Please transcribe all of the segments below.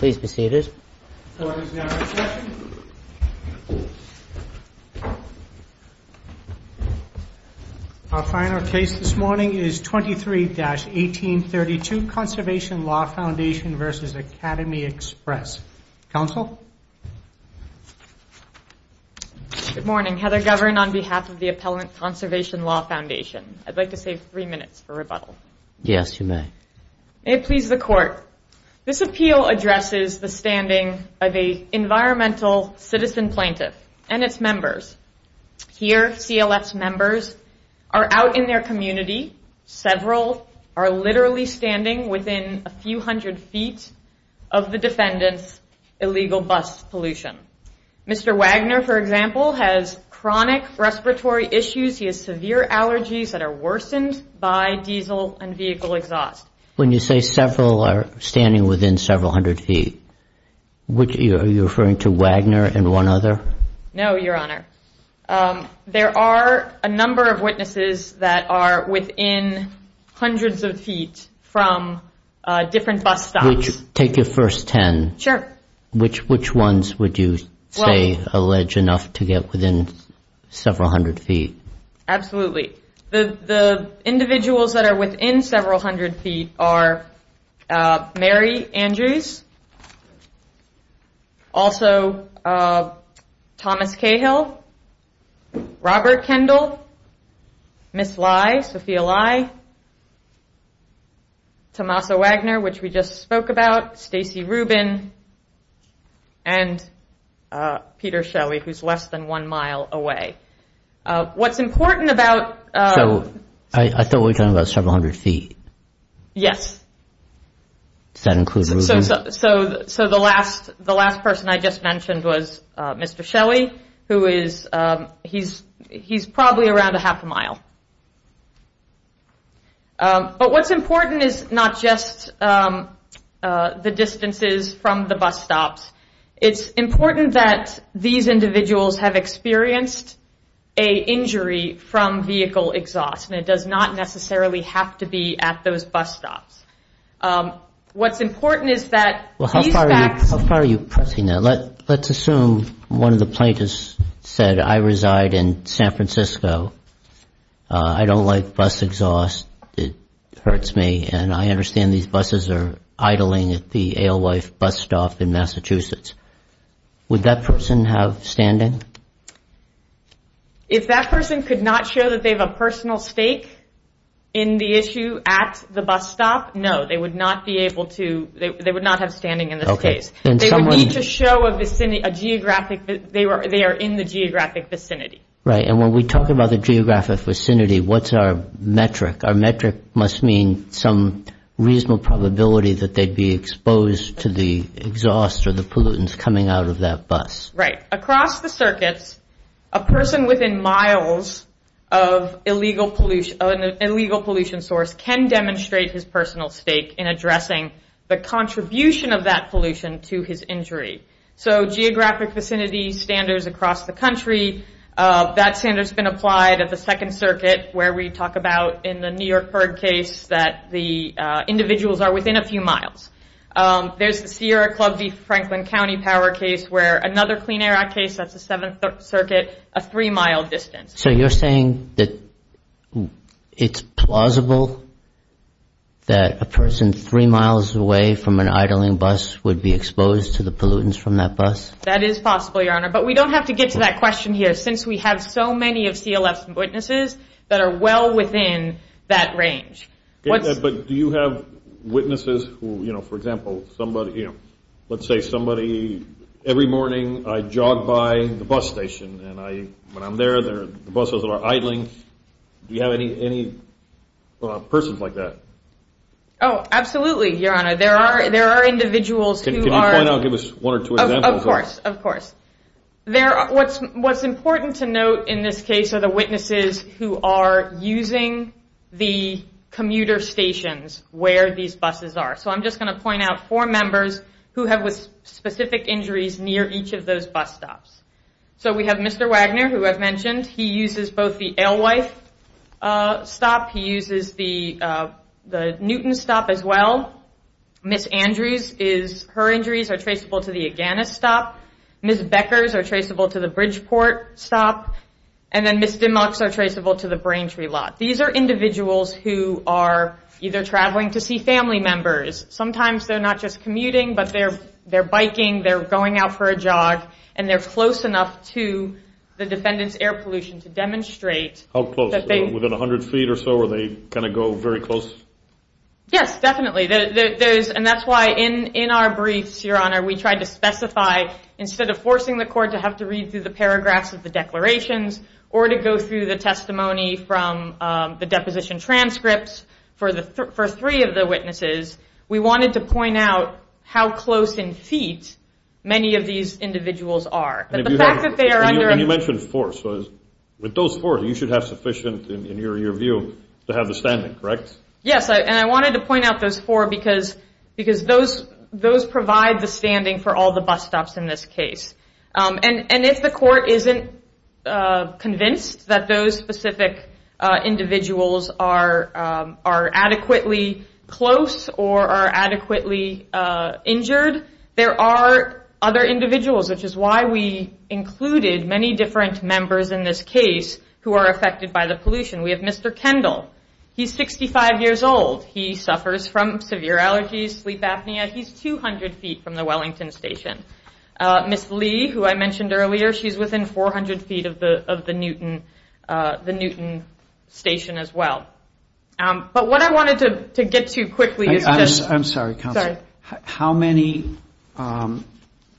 23-1832 Conservation Law Foundation v. Academy Express Council? Good morning. Heather Govern on behalf of the Appellant Conservation Law Foundation. I'd like to save three minutes for rebuttal. Yes, you may. May it please the Court. This appeal addresses the standing of an environmental citizen plaintiff and its members. Here, CLF's members are out in their community. Several are literally standing within a few hundred feet of the defendant's illegal bus pollution. Mr. Wagner, for example, has chronic respiratory issues. He has severe allergies that are worsened by diesel and vehicle exhaust. When you say several are standing within several hundred feet, are you referring to Wagner and one other? No, Your Honor. There are a number of witnesses that are within hundreds of feet from different bus stops. Take your first ten. Sure. Which ones would you say allege enough to get within several hundred feet? Absolutely. The individuals that are within several hundred feet are Mary Andrews, also Thomas Cahill, Robert Kendall, Miss Lye, Sophia Lye, Tommaso Wagner, which we just spoke about, Stacy Rubin, and Peter Shelly, who's less than one mile away. What's important about... So I thought we were talking about several hundred feet. Yes. Does that include Rubin? So the last person I just mentioned was Mr. Shelly, who is, he's probably around a half a mile. But what's important is not just the distances from the bus stops. It's important that these individuals have experienced an injury from vehicle exhaust, and it does not necessarily have to be at those bus stops. What's important is that these facts... How far are you pressing that? Let's assume one of the plaintiffs said, I reside in San Francisco. I don't like bus exhaust. It hurts me. And I understand these buses are idling at the Alewife bus stop in Massachusetts. Would that person have standing? If that person could not show that they have a personal stake in the issue at the bus stop, no. They would not be able to... They would not have standing in this case. They would need to show a geographic... They are in the geographic vicinity. Right. And when we talk about the geographic vicinity, what's our metric? Our metric must mean some reasonable probability that they'd be exposed to the exhaust or the pollutants coming out of that bus. Right. Across the circuits, a person within miles of an illegal pollution source can demonstrate his personal stake in addressing the contribution of that pollution to his injury. So geographic vicinity standards across the country, that standard's been applied at the Second Circuit where we talk about in the New York Perg case that the individuals are within a few miles. There's the Sierra Club v. Franklin County power case where another Clean Air Act case, that's the Seventh Circuit, a three-mile distance. So you're saying that it's plausible that a person three miles away from an idling bus would be exposed to the pollutants from that bus? That is possible, Your Honor. But we don't have to get to that question here since we have so many of CLF's witnesses that are well within that range. But do you have witnesses who, for example, let's say somebody, every morning I jog by the bus station and when I'm there the buses are idling. Do you have any persons like that? Oh, absolutely, Your Honor. There are individuals who are... Can you point out, give us one or two examples? Of course, of course. What's important to note in this case are the witnesses who are using the commuter stations where these buses are. So I'm just going to point out four members who have specific injuries near each of those bus stops. So we have Mr. Wagner, who I've mentioned. He uses both the Alewife stop, he uses the Newton stop as well. Ms. Andrews, her injuries are traceable to the Aganis stop. Ms. Becker's are traceable to the Bridgeport stop. And then Ms. Dimmock's are traceable to the Braintree lot. These are individuals who are either traveling to see family members. Sometimes they're not just commuting, but they're biking, they're going out for a jog, and they're close enough to the defendant's air pollution to demonstrate that they... How close? Within 100 feet or so are they going to go very close? Yes, definitely. And that's why in our briefs, Your Honor, we tried to specify instead of forcing the court to have to read through the paragraphs of the declarations or to go through the testimony from the deposition transcripts for three of the witnesses, we wanted to point out how close in feet many of these individuals are. And you mentioned four, so with those four, you should have sufficient, in your view, to have the standing, correct? Yes, and I wanted to point out those four because those provide the standing for all the bus stops in this case. And if the court isn't convinced that those specific individuals are adequately close or are adequately injured, there are other individuals, which is why we included many different members in this case who are affected by the pollution. We have Mr. Kendall. He's 65 years old. He suffers from severe allergies, sleep apnea. He's 200 feet from the Wellington station. Ms. Lee, who I mentioned earlier, she's within 400 feet of the Newton station as well. But what I wanted to get to quickly is just... I'm sorry, Counsel. Sorry. How many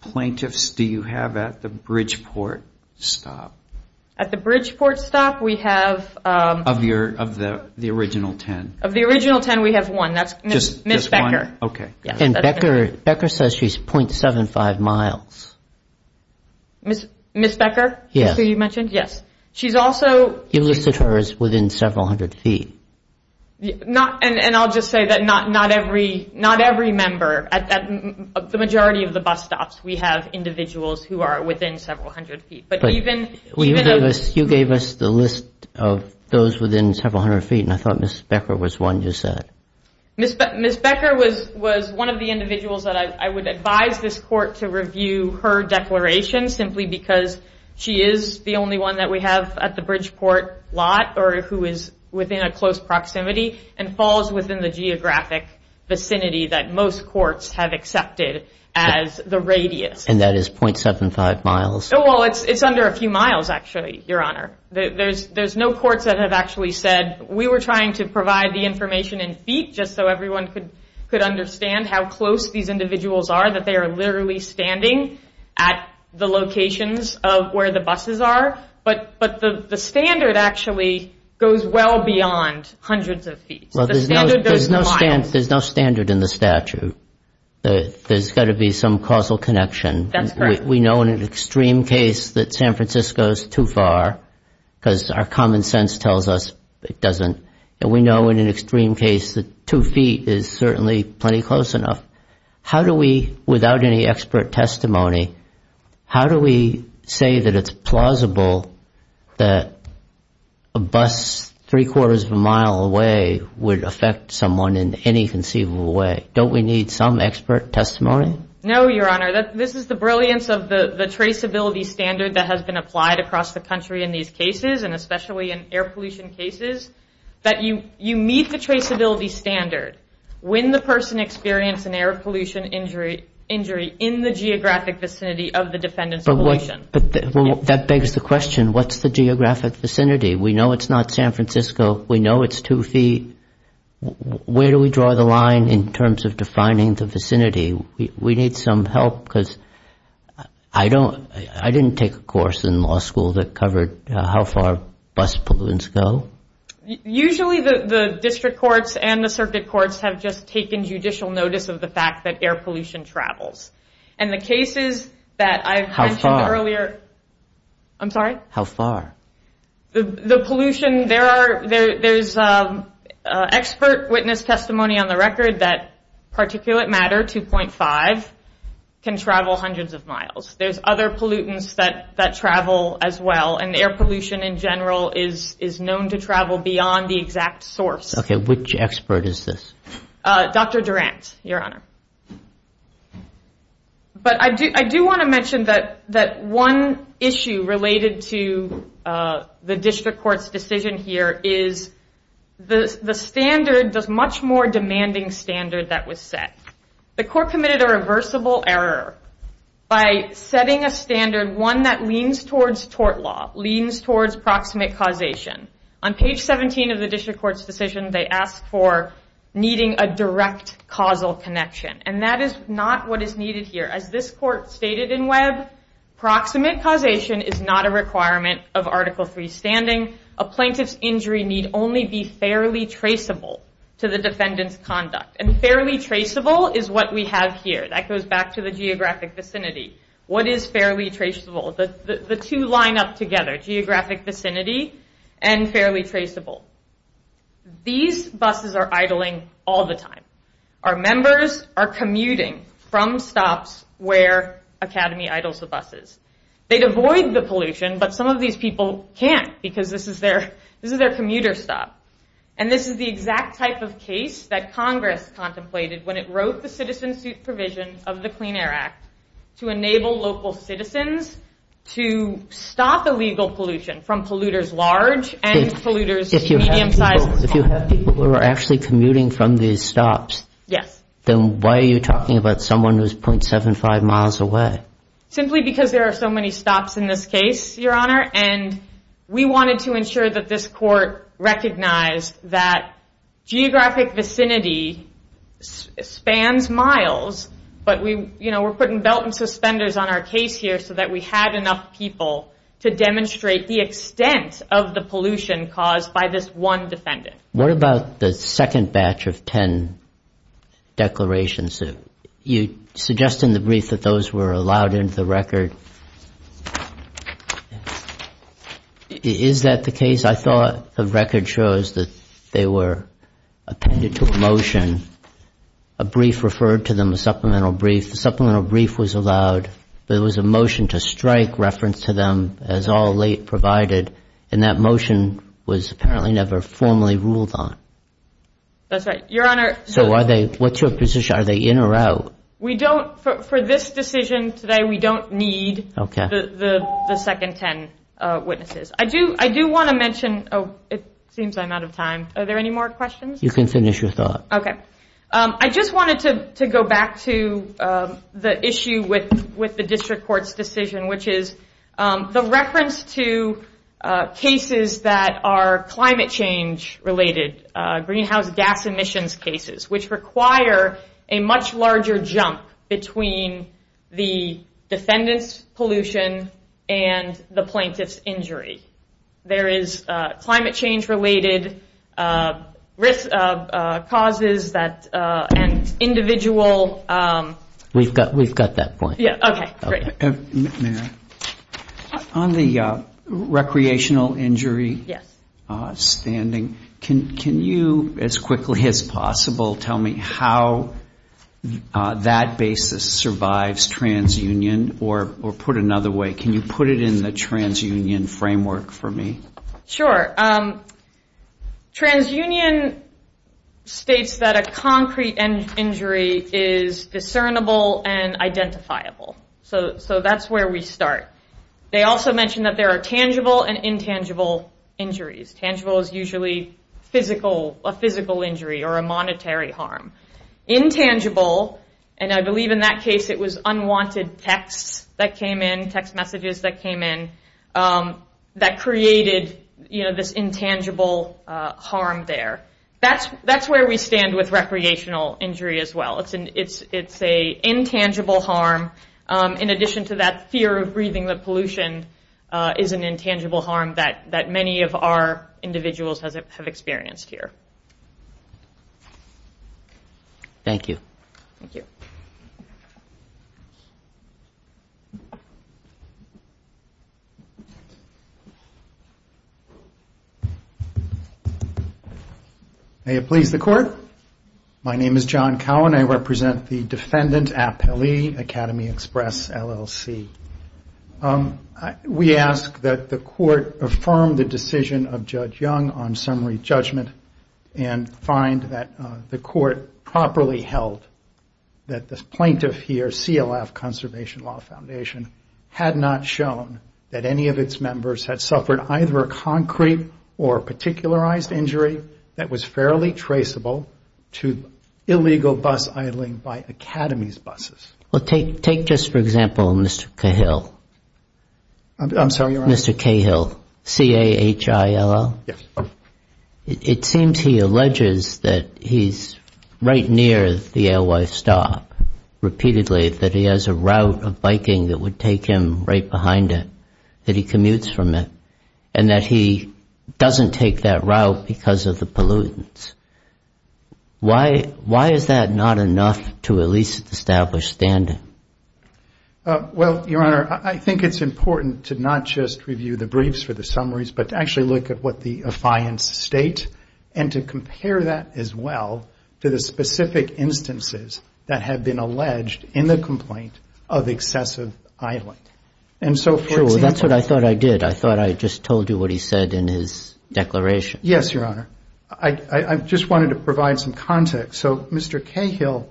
plaintiffs do you have at the Bridgeport stop? At the Bridgeport stop, we have... Of the original ten. Of the original ten, we have one. That's Ms. Becker. Okay. And Becker says she's .75 miles. Ms. Becker, who you mentioned? Yes. She's also... You listed her as within several hundred feet. And I'll just say that not every member, the majority of the bus stops, we have individuals who are within several hundred feet. But even... You gave us the list of those within several hundred feet, and I thought Ms. Becker was one you said. Ms. Becker was one of the individuals that I would advise this court to review her declaration simply because she is the only one that we have at the Bridgeport lot or who is within a close proximity and falls within the geographic vicinity that most courts have accepted as the radius. And that is .75 miles. Well, it's under a few miles, actually, Your Honor. There's no courts that have actually said we were trying to provide the information in feet just so everyone could understand how close these individuals are, that they are literally standing at the locations of where the buses are. But the standard actually goes well beyond hundreds of feet. There's no standard in the statute. There's got to be some causal connection. That's correct. We know in an extreme case that San Francisco is too far because our common sense tells us it doesn't. And we know in an extreme case that two feet is certainly plenty close enough. How do we, without any expert testimony, how do we say that it's plausible that a bus three-quarters of a mile away would affect someone in any conceivable way? Don't we need some expert testimony? No, Your Honor. This is the brilliance of the traceability standard that has been applied across the country in these cases, and especially in air pollution cases, that you meet the traceability standard when the person experienced an air pollution injury in the geographic vicinity of the defendant's location. But that begs the question, what's the geographic vicinity? We know it's not San Francisco. We know it's two feet. Where do we draw the line in terms of defining the vicinity? We need some help because I didn't take a course in law school that covered how far bus pollutants go. Usually the district courts and the circuit courts have just taken judicial notice of the fact that air pollution travels. And the cases that I mentioned earlier... How far? I'm sorry? How far? The pollution, there's expert witness testimony on the record that particulate matter 2.5 can travel hundreds of miles. There's other pollutants that travel as well, and air pollution in general is known to travel beyond the exact source. Okay, which expert is this? Dr. Durant, Your Honor. But I do want to mention that one issue related to the district court's decision here is the standard does much more demanding standard that was set. The court committed a reversible error by setting a standard, one that leans towards tort law, leans towards proximate causation. On page 17 of the district court's decision, they asked for needing a direct causal connection, and that is not what is needed here. As this court stated in Webb, proximate causation is not a requirement of Article III standing. A plaintiff's injury need only be fairly traceable to the defendant's conduct, and fairly traceable is what we have here. That goes back to the geographic vicinity. What is fairly traceable? The two line up together, geographic vicinity and fairly traceable. These buses are idling all the time. Our members are commuting from stops where Academy idles the buses. They'd avoid the pollution, but some of these people can't because this is their commuter stop. This is the exact type of case that Congress contemplated when it wrote the citizen-suit provision of the Clean Air Act to enable local citizens to stop illegal pollution from polluters large and polluters medium-sized. If you have people who are actually commuting from these stops, then why are you talking about someone who is 0.75 miles away? Simply because there are so many stops in this case, Your Honor, and we wanted to ensure that this court recognized that geographic vicinity spans miles, but we're putting belt and suspenders on our case here so that we had enough people to demonstrate the extent of the pollution caused by this one defendant. What about the second batch of 10 declarations? You suggest in the brief that those were allowed into the record. Is that the case? I thought the record shows that they were appended to a motion. A brief referred to them, a supplemental brief. The supplemental brief was allowed, but it was a motion to strike reference to them as all late provided, and that motion was apparently never formally ruled on. That's right, Your Honor. So what's your position? Are they in or out? For this decision today, we don't need the second 10 witnesses. I do want to mention – oh, it seems I'm out of time. Are there any more questions? You can finish your thought. Okay. I just wanted to go back to the issue with the district court's decision, which is the reference to cases that are climate change related, greenhouse gas emissions cases, which require a much larger jump between the defendant's pollution and the plaintiff's injury. There is climate change related causes and individual. We've got that point. Okay, great. Mayor, on the recreational injury standing, can you, as quickly as possible, tell me how that basis survives transunion, or put another way, can you put it in the transunion framework for me? Sure. Transunion states that a concrete injury is discernible and identifiable. So that's where we start. They also mention that there are tangible and intangible injuries. Tangible is usually a physical injury or a monetary harm. Intangible, and I believe in that case it was unwanted texts that came in, text messages that came in, that created this intangible harm there. That's where we stand with recreational injury as well. It's an intangible harm in addition to that fear of breathing the pollution is an intangible harm that many of our individuals have experienced here. Thank you. Thank you. May it please the Court. My name is John Cowan. I represent the Defendant Appellee Academy Express LLC. We ask that the Court affirm the decision of Judge Young on summary judgment and find that the Court properly held that the plaintiff here, CLF Conservation Law Foundation, had not shown that any of its members had suffered either a concrete injury or a particularized injury that was fairly traceable to illegal bus idling by Academy's buses. Well, take just for example Mr. Cahill. I'm sorry, Your Honor. Mr. Cahill, C-A-H-I-L-L. Yes. It seems he alleges that he's right near the AOI stop repeatedly, that he has a route of biking that would take him right behind it, that he commutes from it, and that he doesn't take that route because of the pollutants. Why is that not enough to at least establish standing? Well, Your Honor, I think it's important to not just review the briefs for the summaries, but to actually look at what the affiance state and to compare that as well to the specific instances that have been alleged in the complaint of excessive idling. Sure. Well, that's what I thought I did. I thought I just told you what he said in his declaration. Yes, Your Honor. I just wanted to provide some context. So Mr. Cahill,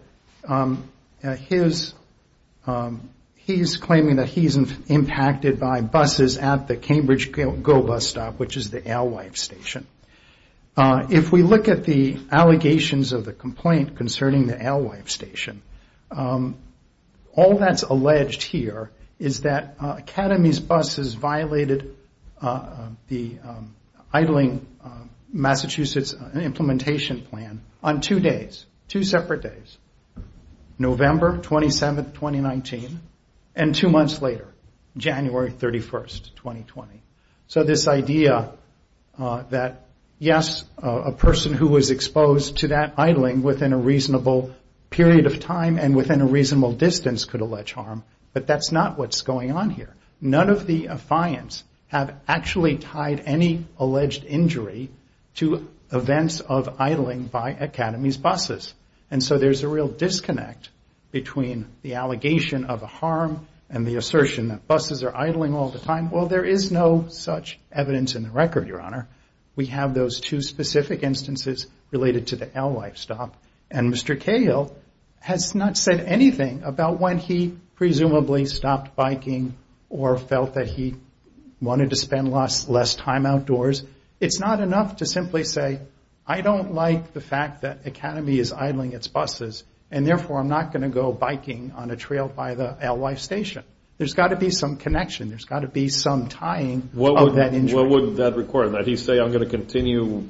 he's claiming that he's impacted by buses at the Cambridge GO bus stop, which is the ALWIFE station. If we look at the allegations of the complaint concerning the ALWIFE station, all that's alleged here is that Academy's buses violated the idling Massachusetts implementation plan on two days, two separate days, November 27, 2019, and two months later, January 31, 2020. So this idea that, yes, a person who was exposed to that idling within a reasonable period of time and within a reasonable distance could allege harm, but that's not what's going on here. None of the affiance have actually tied any alleged injury to events of idling by Academy's buses. And so there's a real disconnect between the allegation of a harm and the assertion that buses are idling all the time. We have those two specific instances related to the ALWIFE stop. And Mr. Cahill has not said anything about when he presumably stopped biking or felt that he wanted to spend less time outdoors. It's not enough to simply say, I don't like the fact that Academy is idling its buses, and therefore I'm not going to go biking on a trail by the ALWIFE station. There's got to be some connection. There's got to be some tying of that injury. That's what he said in court. Did he say, I'm going to continue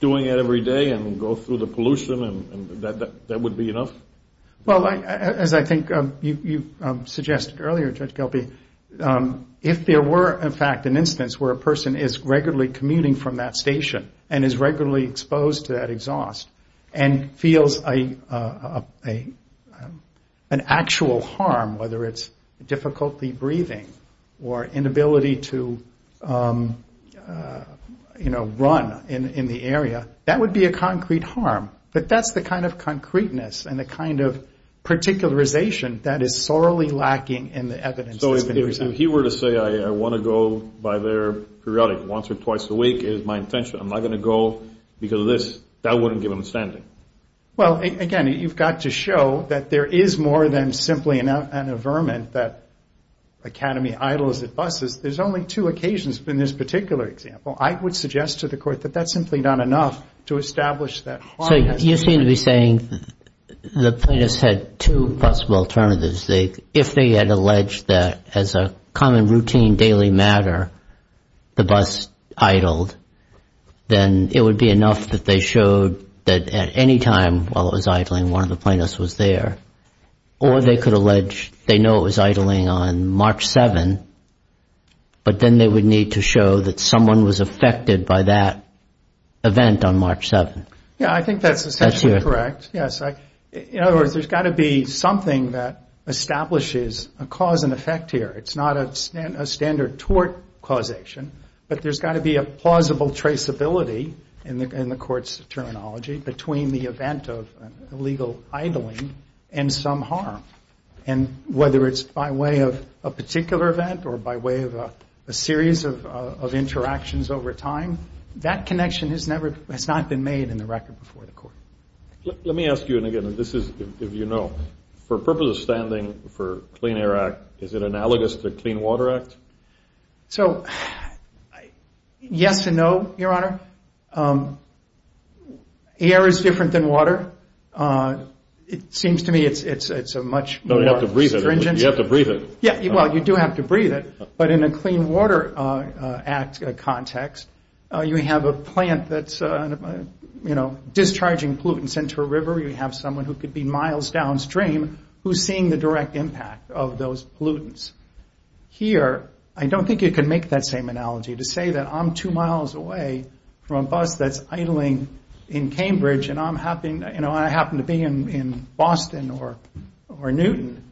doing it every day and go through the pollution and that would be enough? Well, as I think you suggested earlier, Judge Gelby, if there were, in fact, an instance where a person is regularly commuting from that station and is regularly exposed to that exhaust and feels an actual harm, whether it's difficulty breathing or inability to run in the area, that would be a concrete harm. But that's the kind of concreteness and the kind of particularization that is sorely lacking in the evidence that's been presented. So if he were to say, I want to go by their periodic, once or twice a week is my intention, I'm not going to go because of this, that wouldn't give him standing. Well, again, you've got to show that there is more than simply an averment that Academy idles at buses. There's only two occasions in this particular example. I would suggest to the Court that that's simply not enough to establish that. So you seem to be saying the plaintiffs had two possible alternatives. If they had alleged that as a common routine daily matter the bus idled, then it would be enough that they showed that at any time while it was idling, one of the plaintiffs was there. Or they could allege they know it was idling on March 7, but then they would need to show that someone was affected by that event on March 7. Yeah, I think that's essentially correct. In other words, there's got to be something that establishes a cause and effect here. It's not a standard tort causation, but there's got to be a plausible traceability in the Court's terminology between the event of illegal idling and some harm. And whether it's by way of a particular event or by way of a series of interactions over time, that connection has not been made in the record before the Court. Let me ask you again, and this is if you know, for purposes of standing for Clean Air Act, is it analogous to the Clean Water Act? So, yes and no, Your Honor. Air is different than water. It seems to me it's a much more stringent... No, you have to breathe it. You have to breathe it. Yeah, well, you do have to breathe it. But in a Clean Water Act context, you have a plant that's discharging pollutants into a river. Or you have someone who could be miles downstream who's seeing the direct impact of those pollutants. Here, I don't think you can make that same analogy to say that I'm two miles away from a bus that's idling in Cambridge and I happen to be in Boston or Newton.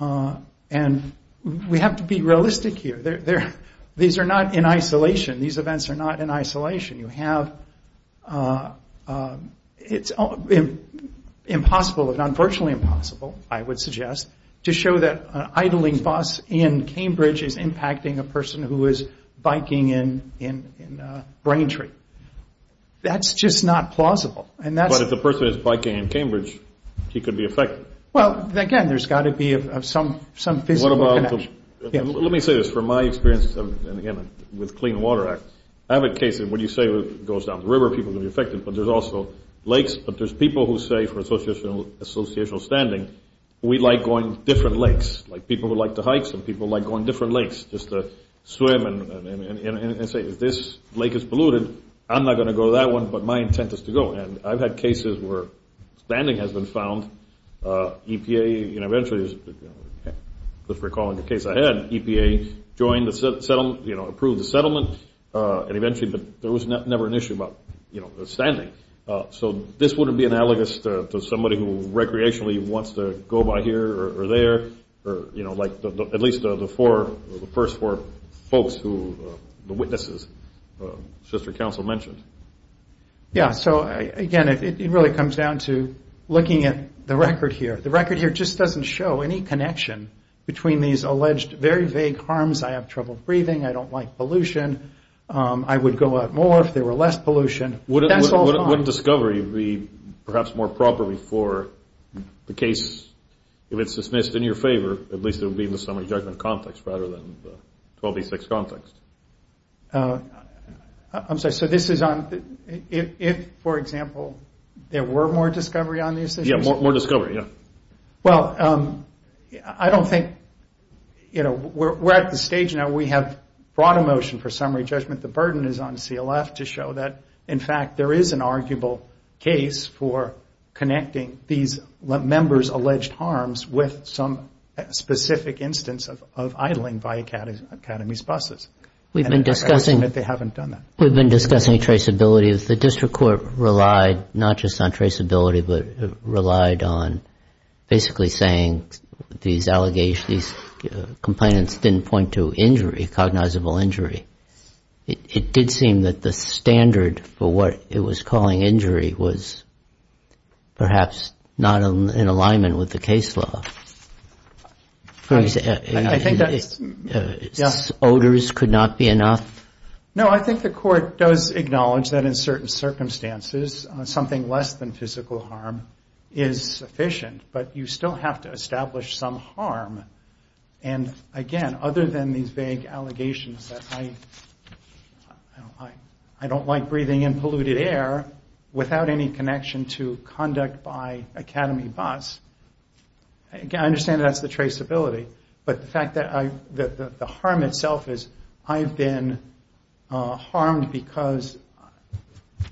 And we have to be realistic here. These are not in isolation. These events are not in isolation. You have... It's impossible, if not virtually impossible, I would suggest, to show that an idling bus in Cambridge is impacting a person who is biking in Braintree. That's just not plausible. But if the person is biking in Cambridge, he could be affected. Well, again, there's got to be some physical connection. Let me say this. From my experience, again, with Clean Water Act, I have a case that when you say it goes down the river, people are going to be affected, but there's also lakes. But there's people who say, for associational standing, we like going to different lakes. Like people who like to hike, some people like going to different lakes just to swim and say, if this lake is polluted, I'm not going to go to that one, but my intent is to go. And I've had cases where standing has been found. EPA eventually, just recalling the case I had, EPA joined the settlement, approved the settlement, and eventually there was never an issue about standing. So this wouldn't be analogous to somebody who recreationally wants to go by here or there, like at least the first four folks, the witnesses, the sister council mentioned. Yeah, so again, it really comes down to looking at the record here. The record here just doesn't show any connection between these alleged very vague harms. I have trouble breathing. I don't like pollution. I would go out more if there were less pollution. That's all fine. Wouldn't discovery be perhaps more properly for the case, if it's dismissed in your favor, at least it would be in the summary judgment context rather than the 1286 context? I'm sorry, so this is on if, for example, there were more discovery on these issues? Yeah, more discovery, yeah. Well, I don't think, you know, we're at the stage now where we have brought a motion for summary judgment. The burden is on CLF to show that, in fact, there is an arguable case for connecting these members' alleged harms with some specific instance of idling by Academy's buses. We've been discussing. And they haven't done that. We've been discussing traceability. The district court relied not just on traceability, but relied on basically saying these allegations, these complainants didn't point to injury, cognizable injury. It did seem that the standard for what it was calling injury was perhaps not in alignment with the case law. I think that's, yeah. Odors could not be enough? No, I think the court does acknowledge that in certain circumstances something less than physical harm is sufficient. But you still have to establish some harm. And, again, other than these vague allegations that I don't like breathing in polluted air without any connection to conduct by Academy bus, I understand that's the traceability. But the fact that the harm itself is I've been harmed because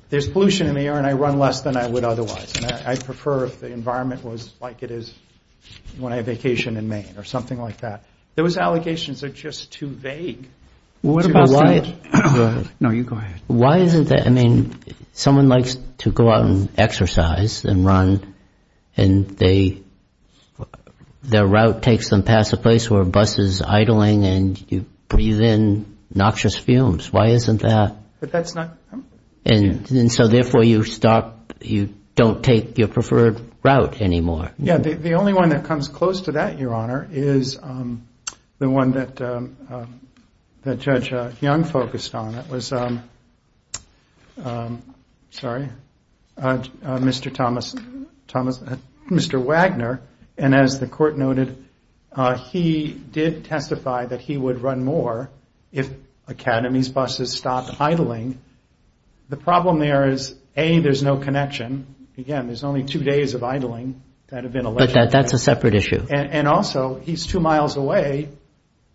there's pollution in the air and I run less than I would otherwise. I'd prefer if the environment was like it is when I vacation in Maine or something like that. Those allegations are just too vague. What about that? No, you go ahead. Why isn't that? I mean, someone likes to go out and exercise and run and their route takes them past a place where a bus is idling and you breathe in noxious fumes. Why isn't that? And so, therefore, you don't take your preferred route anymore. Yeah, the only one that comes close to that, Your Honor, is the one that Judge Young focused on. It was Mr. Wagner. And as the court noted, he did testify that he would run more if Academy's buses stopped idling. The problem there is, A, there's no connection. Again, there's only two days of idling that have been alleged. But that's a separate issue. And also, he's two miles away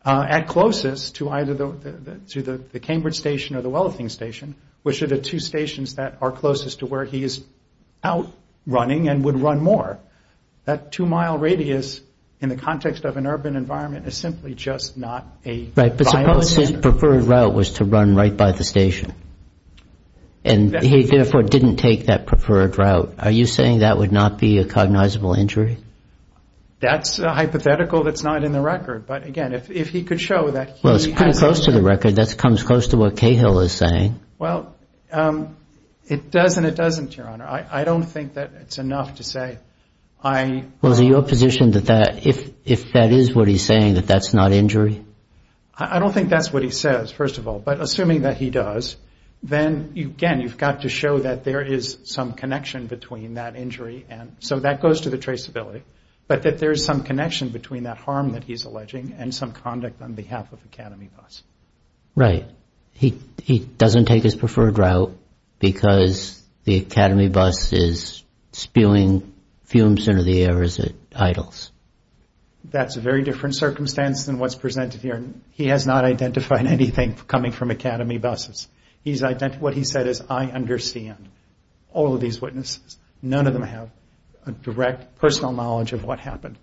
at closest to either the Cambridge Station or the Wellington Station, which are the two stations that are closest to where he is out running and would run more. That two-mile radius in the context of an urban environment is simply just not viable. Right. But suppose his preferred route was to run right by the station and he, therefore, didn't take that preferred route. Are you saying that would not be a cognizable injury? That's a hypothetical that's not in the record. But, again, if he could show that he has that. Well, it's pretty close to the record. That comes close to what Cahill is saying. Well, it does and it doesn't, Your Honor. I don't think that it's enough to say I – Well, is it your position that if that is what he's saying, that that's not injury? I don't think that's what he says, first of all. But assuming that he does, then, again, you've got to show that there is some connection between that injury and – so that goes to the traceability – but that there is some connection between that harm that he's alleging and some conduct on behalf of Academy Bus. Right. He doesn't take his preferred route because the Academy Bus is spewing fumes into the air as it idles. That's a very different circumstance than what's presented here. He has not identified anything coming from Academy Bus. What he said is, I understand all of these witnesses. None of them have a direct personal knowledge of what happened.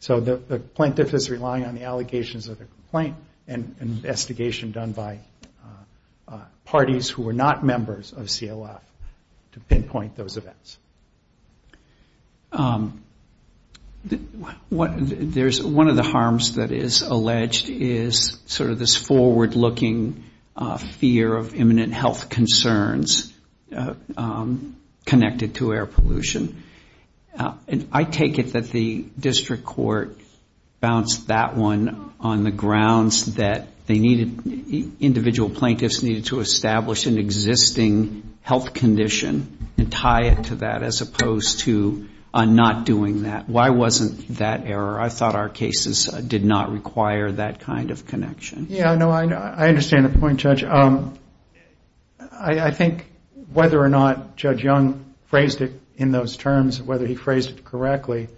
So the plaintiff is relying on the allegations of the complaint and investigation done by parties who were not members of CLF to pinpoint those events. One of the harms that is alleged is sort of this forward-looking fear of imminent health concerns connected to air pollution. I take it that the district court bounced that one on the grounds that individual plaintiffs needed to establish an existing health condition and tie it to that as opposed to not doing that. Why wasn't that error? I thought our cases did not require that kind of connection. Yeah, no, I understand the point, Judge. I think whether or not Judge Young phrased it in those terms, whether he phrased it correctly,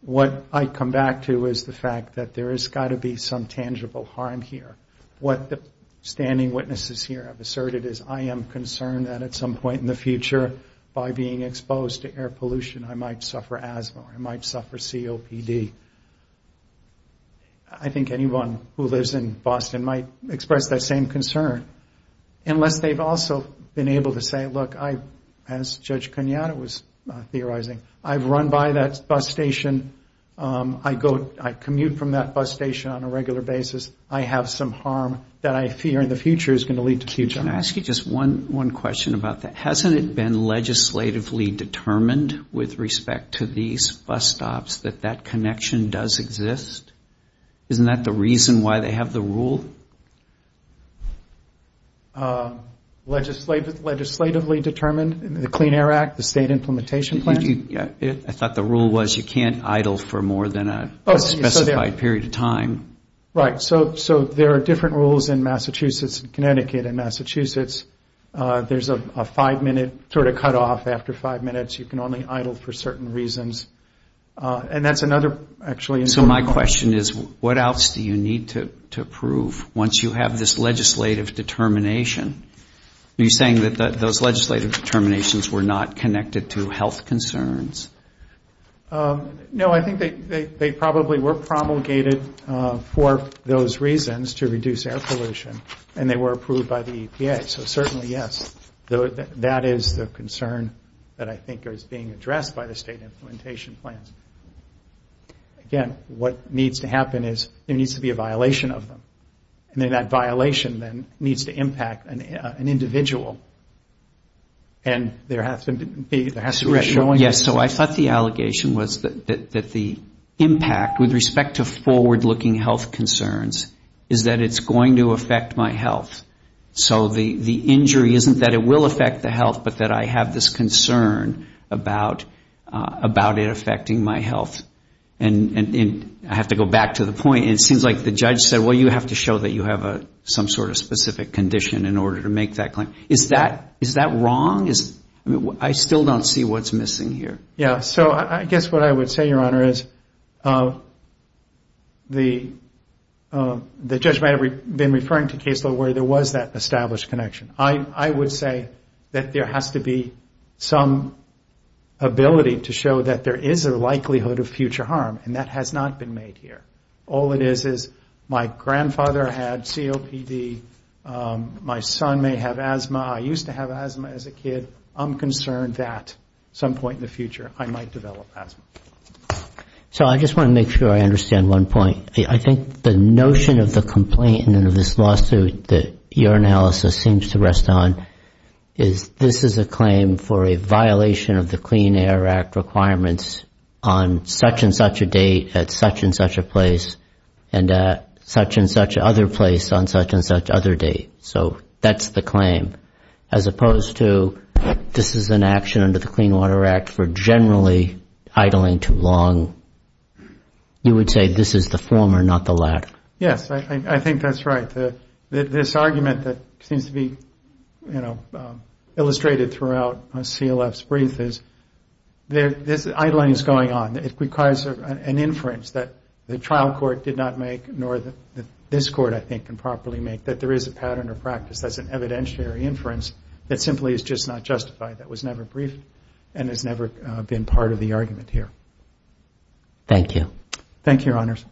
what I come back to is the fact that there has got to be some tangible harm here. What the standing witnesses here have asserted is I am concerned that at some point in the future, by being exposed to air pollution, I might suffer asthma or I might suffer COPD. I think anyone who lives in Boston might express that same concern, unless they've also been able to say, look, as Judge Cunata was theorizing, I've run by that bus station. I commute from that bus station on a regular basis. I have some harm that I fear in the future is going to lead to future harm. Can I ask you just one question about that? Hasn't it been legislatively determined with respect to these bus stops that that connection does exist? Isn't that the reason why they have the rule? Legislatively determined? The Clean Air Act, the state implementation plan? I thought the rule was you can't idle for more than a specified period of time. Right, so there are different rules in Massachusetts, Connecticut and Massachusetts. There's a five-minute sort of cutoff after five minutes. You can only idle for certain reasons. So my question is, what else do you need to approve once you have this legislative determination? Are you saying that those legislative determinations were not connected to health concerns? No, I think they probably were promulgated for those reasons, to reduce air pollution, and they were approved by the EPA. Right, so certainly, yes. That is the concern that I think is being addressed by the state implementation plans. Again, what needs to happen is there needs to be a violation of them. And then that violation then needs to impact an individual. And there has to be a... Yes, so I thought the allegation was that the impact with respect to forward-looking health concerns is that it's going to affect the health, but that I have this concern about it affecting my health. And I have to go back to the point. It seems like the judge said, well, you have to show that you have some sort of specific condition in order to make that claim. Is that wrong? I still don't see what's missing here. Yes, so I guess what I would say, Your Honor, is the judge may have been referring to cases where there was that established connection. I would say that there has to be some ability to show that there is a likelihood of future harm, and that has not been made here. All it is, is my grandfather had COPD. My son may have asthma. I used to have asthma as a kid. I'm concerned that some point in the future I might develop asthma. So I just want to make sure I understand one point. I think the notion of the complaint in this lawsuit that your analysis seems to rest on is this is a claim for a violation of the Clean Air Act requirements on such and such a date at such and such a place, and at such and such other place on such and such other date. So that's the claim, as opposed to this is an action under the Clean Water Act for generally idling too long. You would say this is the former, not the latter. Yes, I think that's right. This argument that seems to be illustrated throughout CLF's brief is this idling is going on. It requires an inference that the trial court did not make, nor that this court, I think, can properly make, that there is a pattern or practice that's an evidentiary inference that simply is just not justified, that was never briefed, and has never been part of the argument here. Thank you. Thank you, Your Honors.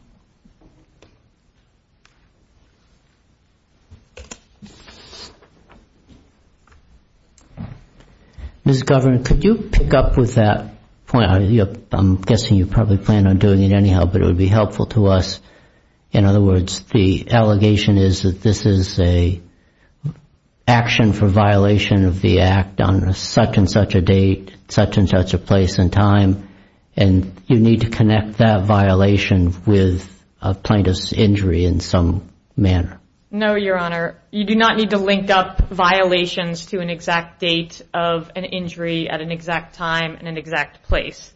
Ms. Governor, could you pick up with that point? I'm guessing you probably plan on doing it anyhow, but it would be helpful to us. In other words, the allegation is that this is an action for violation of the Act on such and such a date, such and such a place and time, and you need to connect that violation with a plaintiff's injury in some manner. No, Your Honor. You do not need to link up violations to an exact date of an injury at an exact time and an exact place.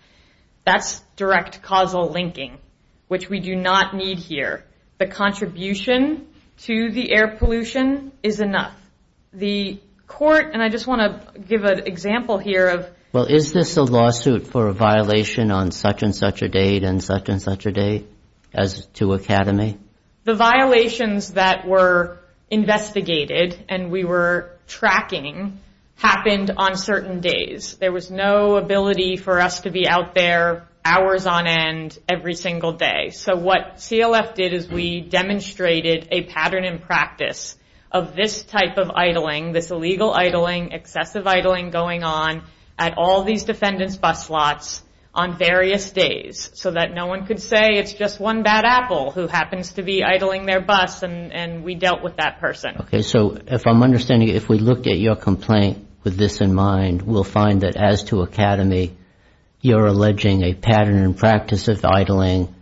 That's direct causal linking, which we do not need here. The contribution to the air pollution is enough. The court, and I just want to give an example here of Well, is this a lawsuit for a violation on such and such a date and such and such a day as to Academy? The violations that were investigated and we were tracking happened on certain days. There was no ability for us to be out there hours on end every single day. So what CLF did is we demonstrated a pattern in practice of this type of violation. We demonstrated a pattern in practice of idling, this illegal idling, excessive idling going on at all these defendants' bus slots on various days so that no one could say it's just one bad apple who happens to be idling their bus and we dealt with that person. Okay. So if I'm understanding, if we looked at your complaint with this in mind, we'll find that as to Academy, you're alleging a pattern in practice of idling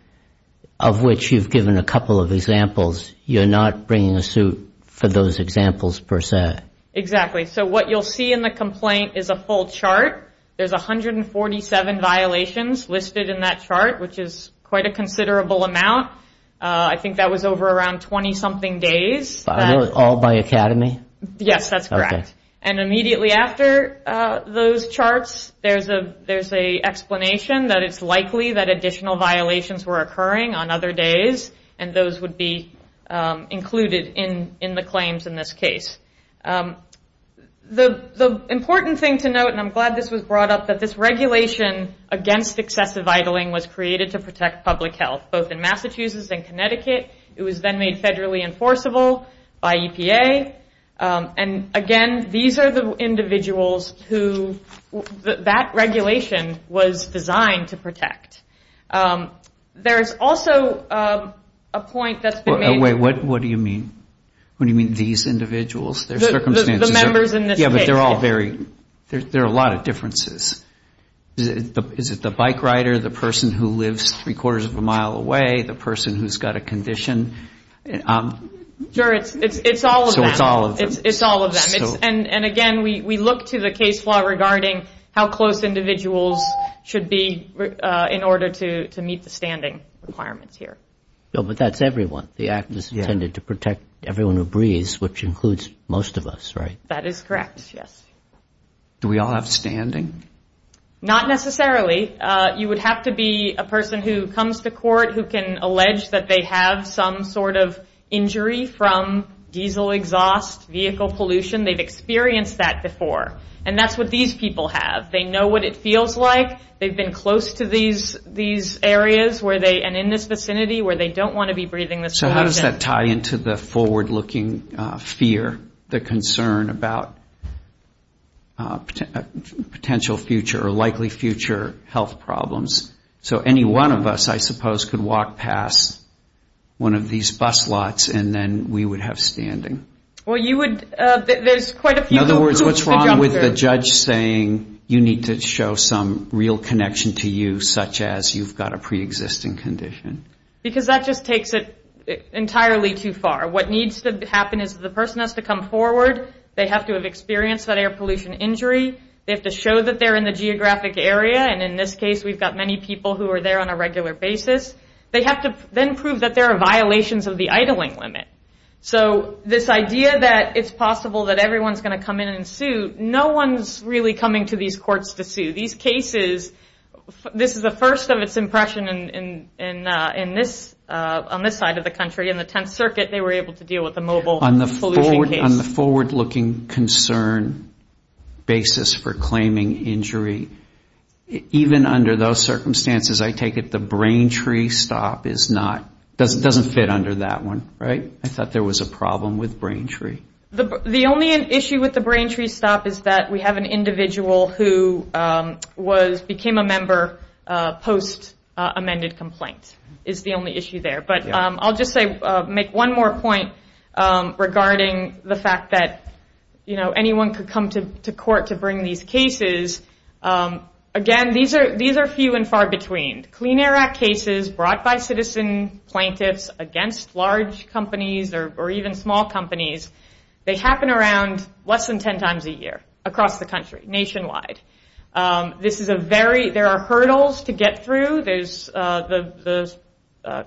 of which you've given a couple of examples. You're not bringing a suit for those examples per se. Exactly. So what you'll see in the complaint is a full chart. There's 147 violations listed in that chart, which is quite a considerable amount. I think that was over around 20-something days. All by Academy? Yes, that's correct. And immediately after those charts, there's an explanation that it's likely that additional violations were occurring on other days and those would be included in the claims in this case. The important thing to note, and I'm glad this was brought up, that this regulation against excessive idling was created to protect public health, both in Massachusetts and Connecticut. It was then made federally enforceable by EPA. And again, these are the individuals who that regulation was designed to protect. There's also a point that's been made. Wait, what do you mean? What do you mean, these individuals? The members in this case. There are a lot of differences. Is it the bike rider, the person who lives three-quarters of a mile away, the person who's got a condition? Sure, it's all of them. And again, we look to the case law regarding how close individuals should be in order to meet the standing requirements here. But that's everyone. The act is intended to protect everyone who breathes, which includes most of us, right? That is correct, yes. Do we all have standing? Not necessarily. You would have to be a person who comes to court who can allege that they have some sort of injury from diesel exhaust, vehicle pollution. They've experienced that before. And that's what these people have. They know what it feels like. They've been close to these areas and in this vicinity where they don't want to be breathing this pollution. So any one of us, I suppose, could walk past one of these bus lots and then we would have standing. In other words, what's wrong with the judge saying you need to show some real connection to you, such as you've got a preexisting condition? Because that just takes it entirely too far. What needs to happen is the person has to come forward. They have to have experienced that air pollution injury. They have to show that they're in the geographic area. And in this case, we've got many people who are there on a regular basis. They have to then prove that there are violations of the idling limit. So this idea that it's possible that everyone's going to come in and sue, no one's really coming to these courts to sue. These cases, this is the first of its impression on this side of the country. In the Tenth Circuit, they were able to deal with a mobile pollution case. On the forward-looking concern basis for claiming injury, even under those circumstances, I take it the brain tree stop doesn't fit under that one, right? I thought there was a problem with brain tree. The only issue with the brain tree stop is that we have an individual who became a member post-amended complaint is the only issue there. But I'll just make one more point regarding the fact that anyone could come to court to bring these cases. Again, these are few and far between. Clean Air Act cases brought by citizen plaintiffs against large companies or even small companies, they happen around less than 10 times a year across the country, nationwide. There are hurdles to get through. The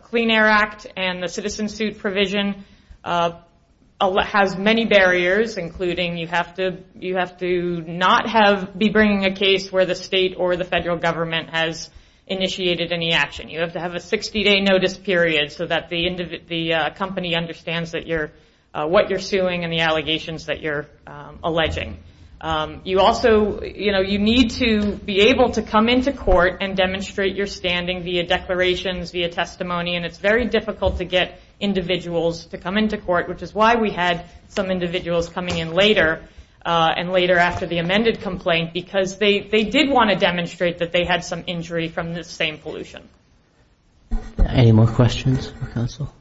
Clean Air Act and the citizen suit provision has many barriers, including you have to not be bringing a case where the state or the federal government has initiated a lawsuit. You have to have a 60-day notice period so that the company understands what you're suing and the allegations that you're alleging. You need to be able to come into court and demonstrate your standing via declarations, via testimony. It's very difficult to get individuals to come into court, which is why we had some individuals coming in later and later after the amended complaint, because they did want to demonstrate that they had some injury from the same pollution. Any more questions for counsel? Thank you.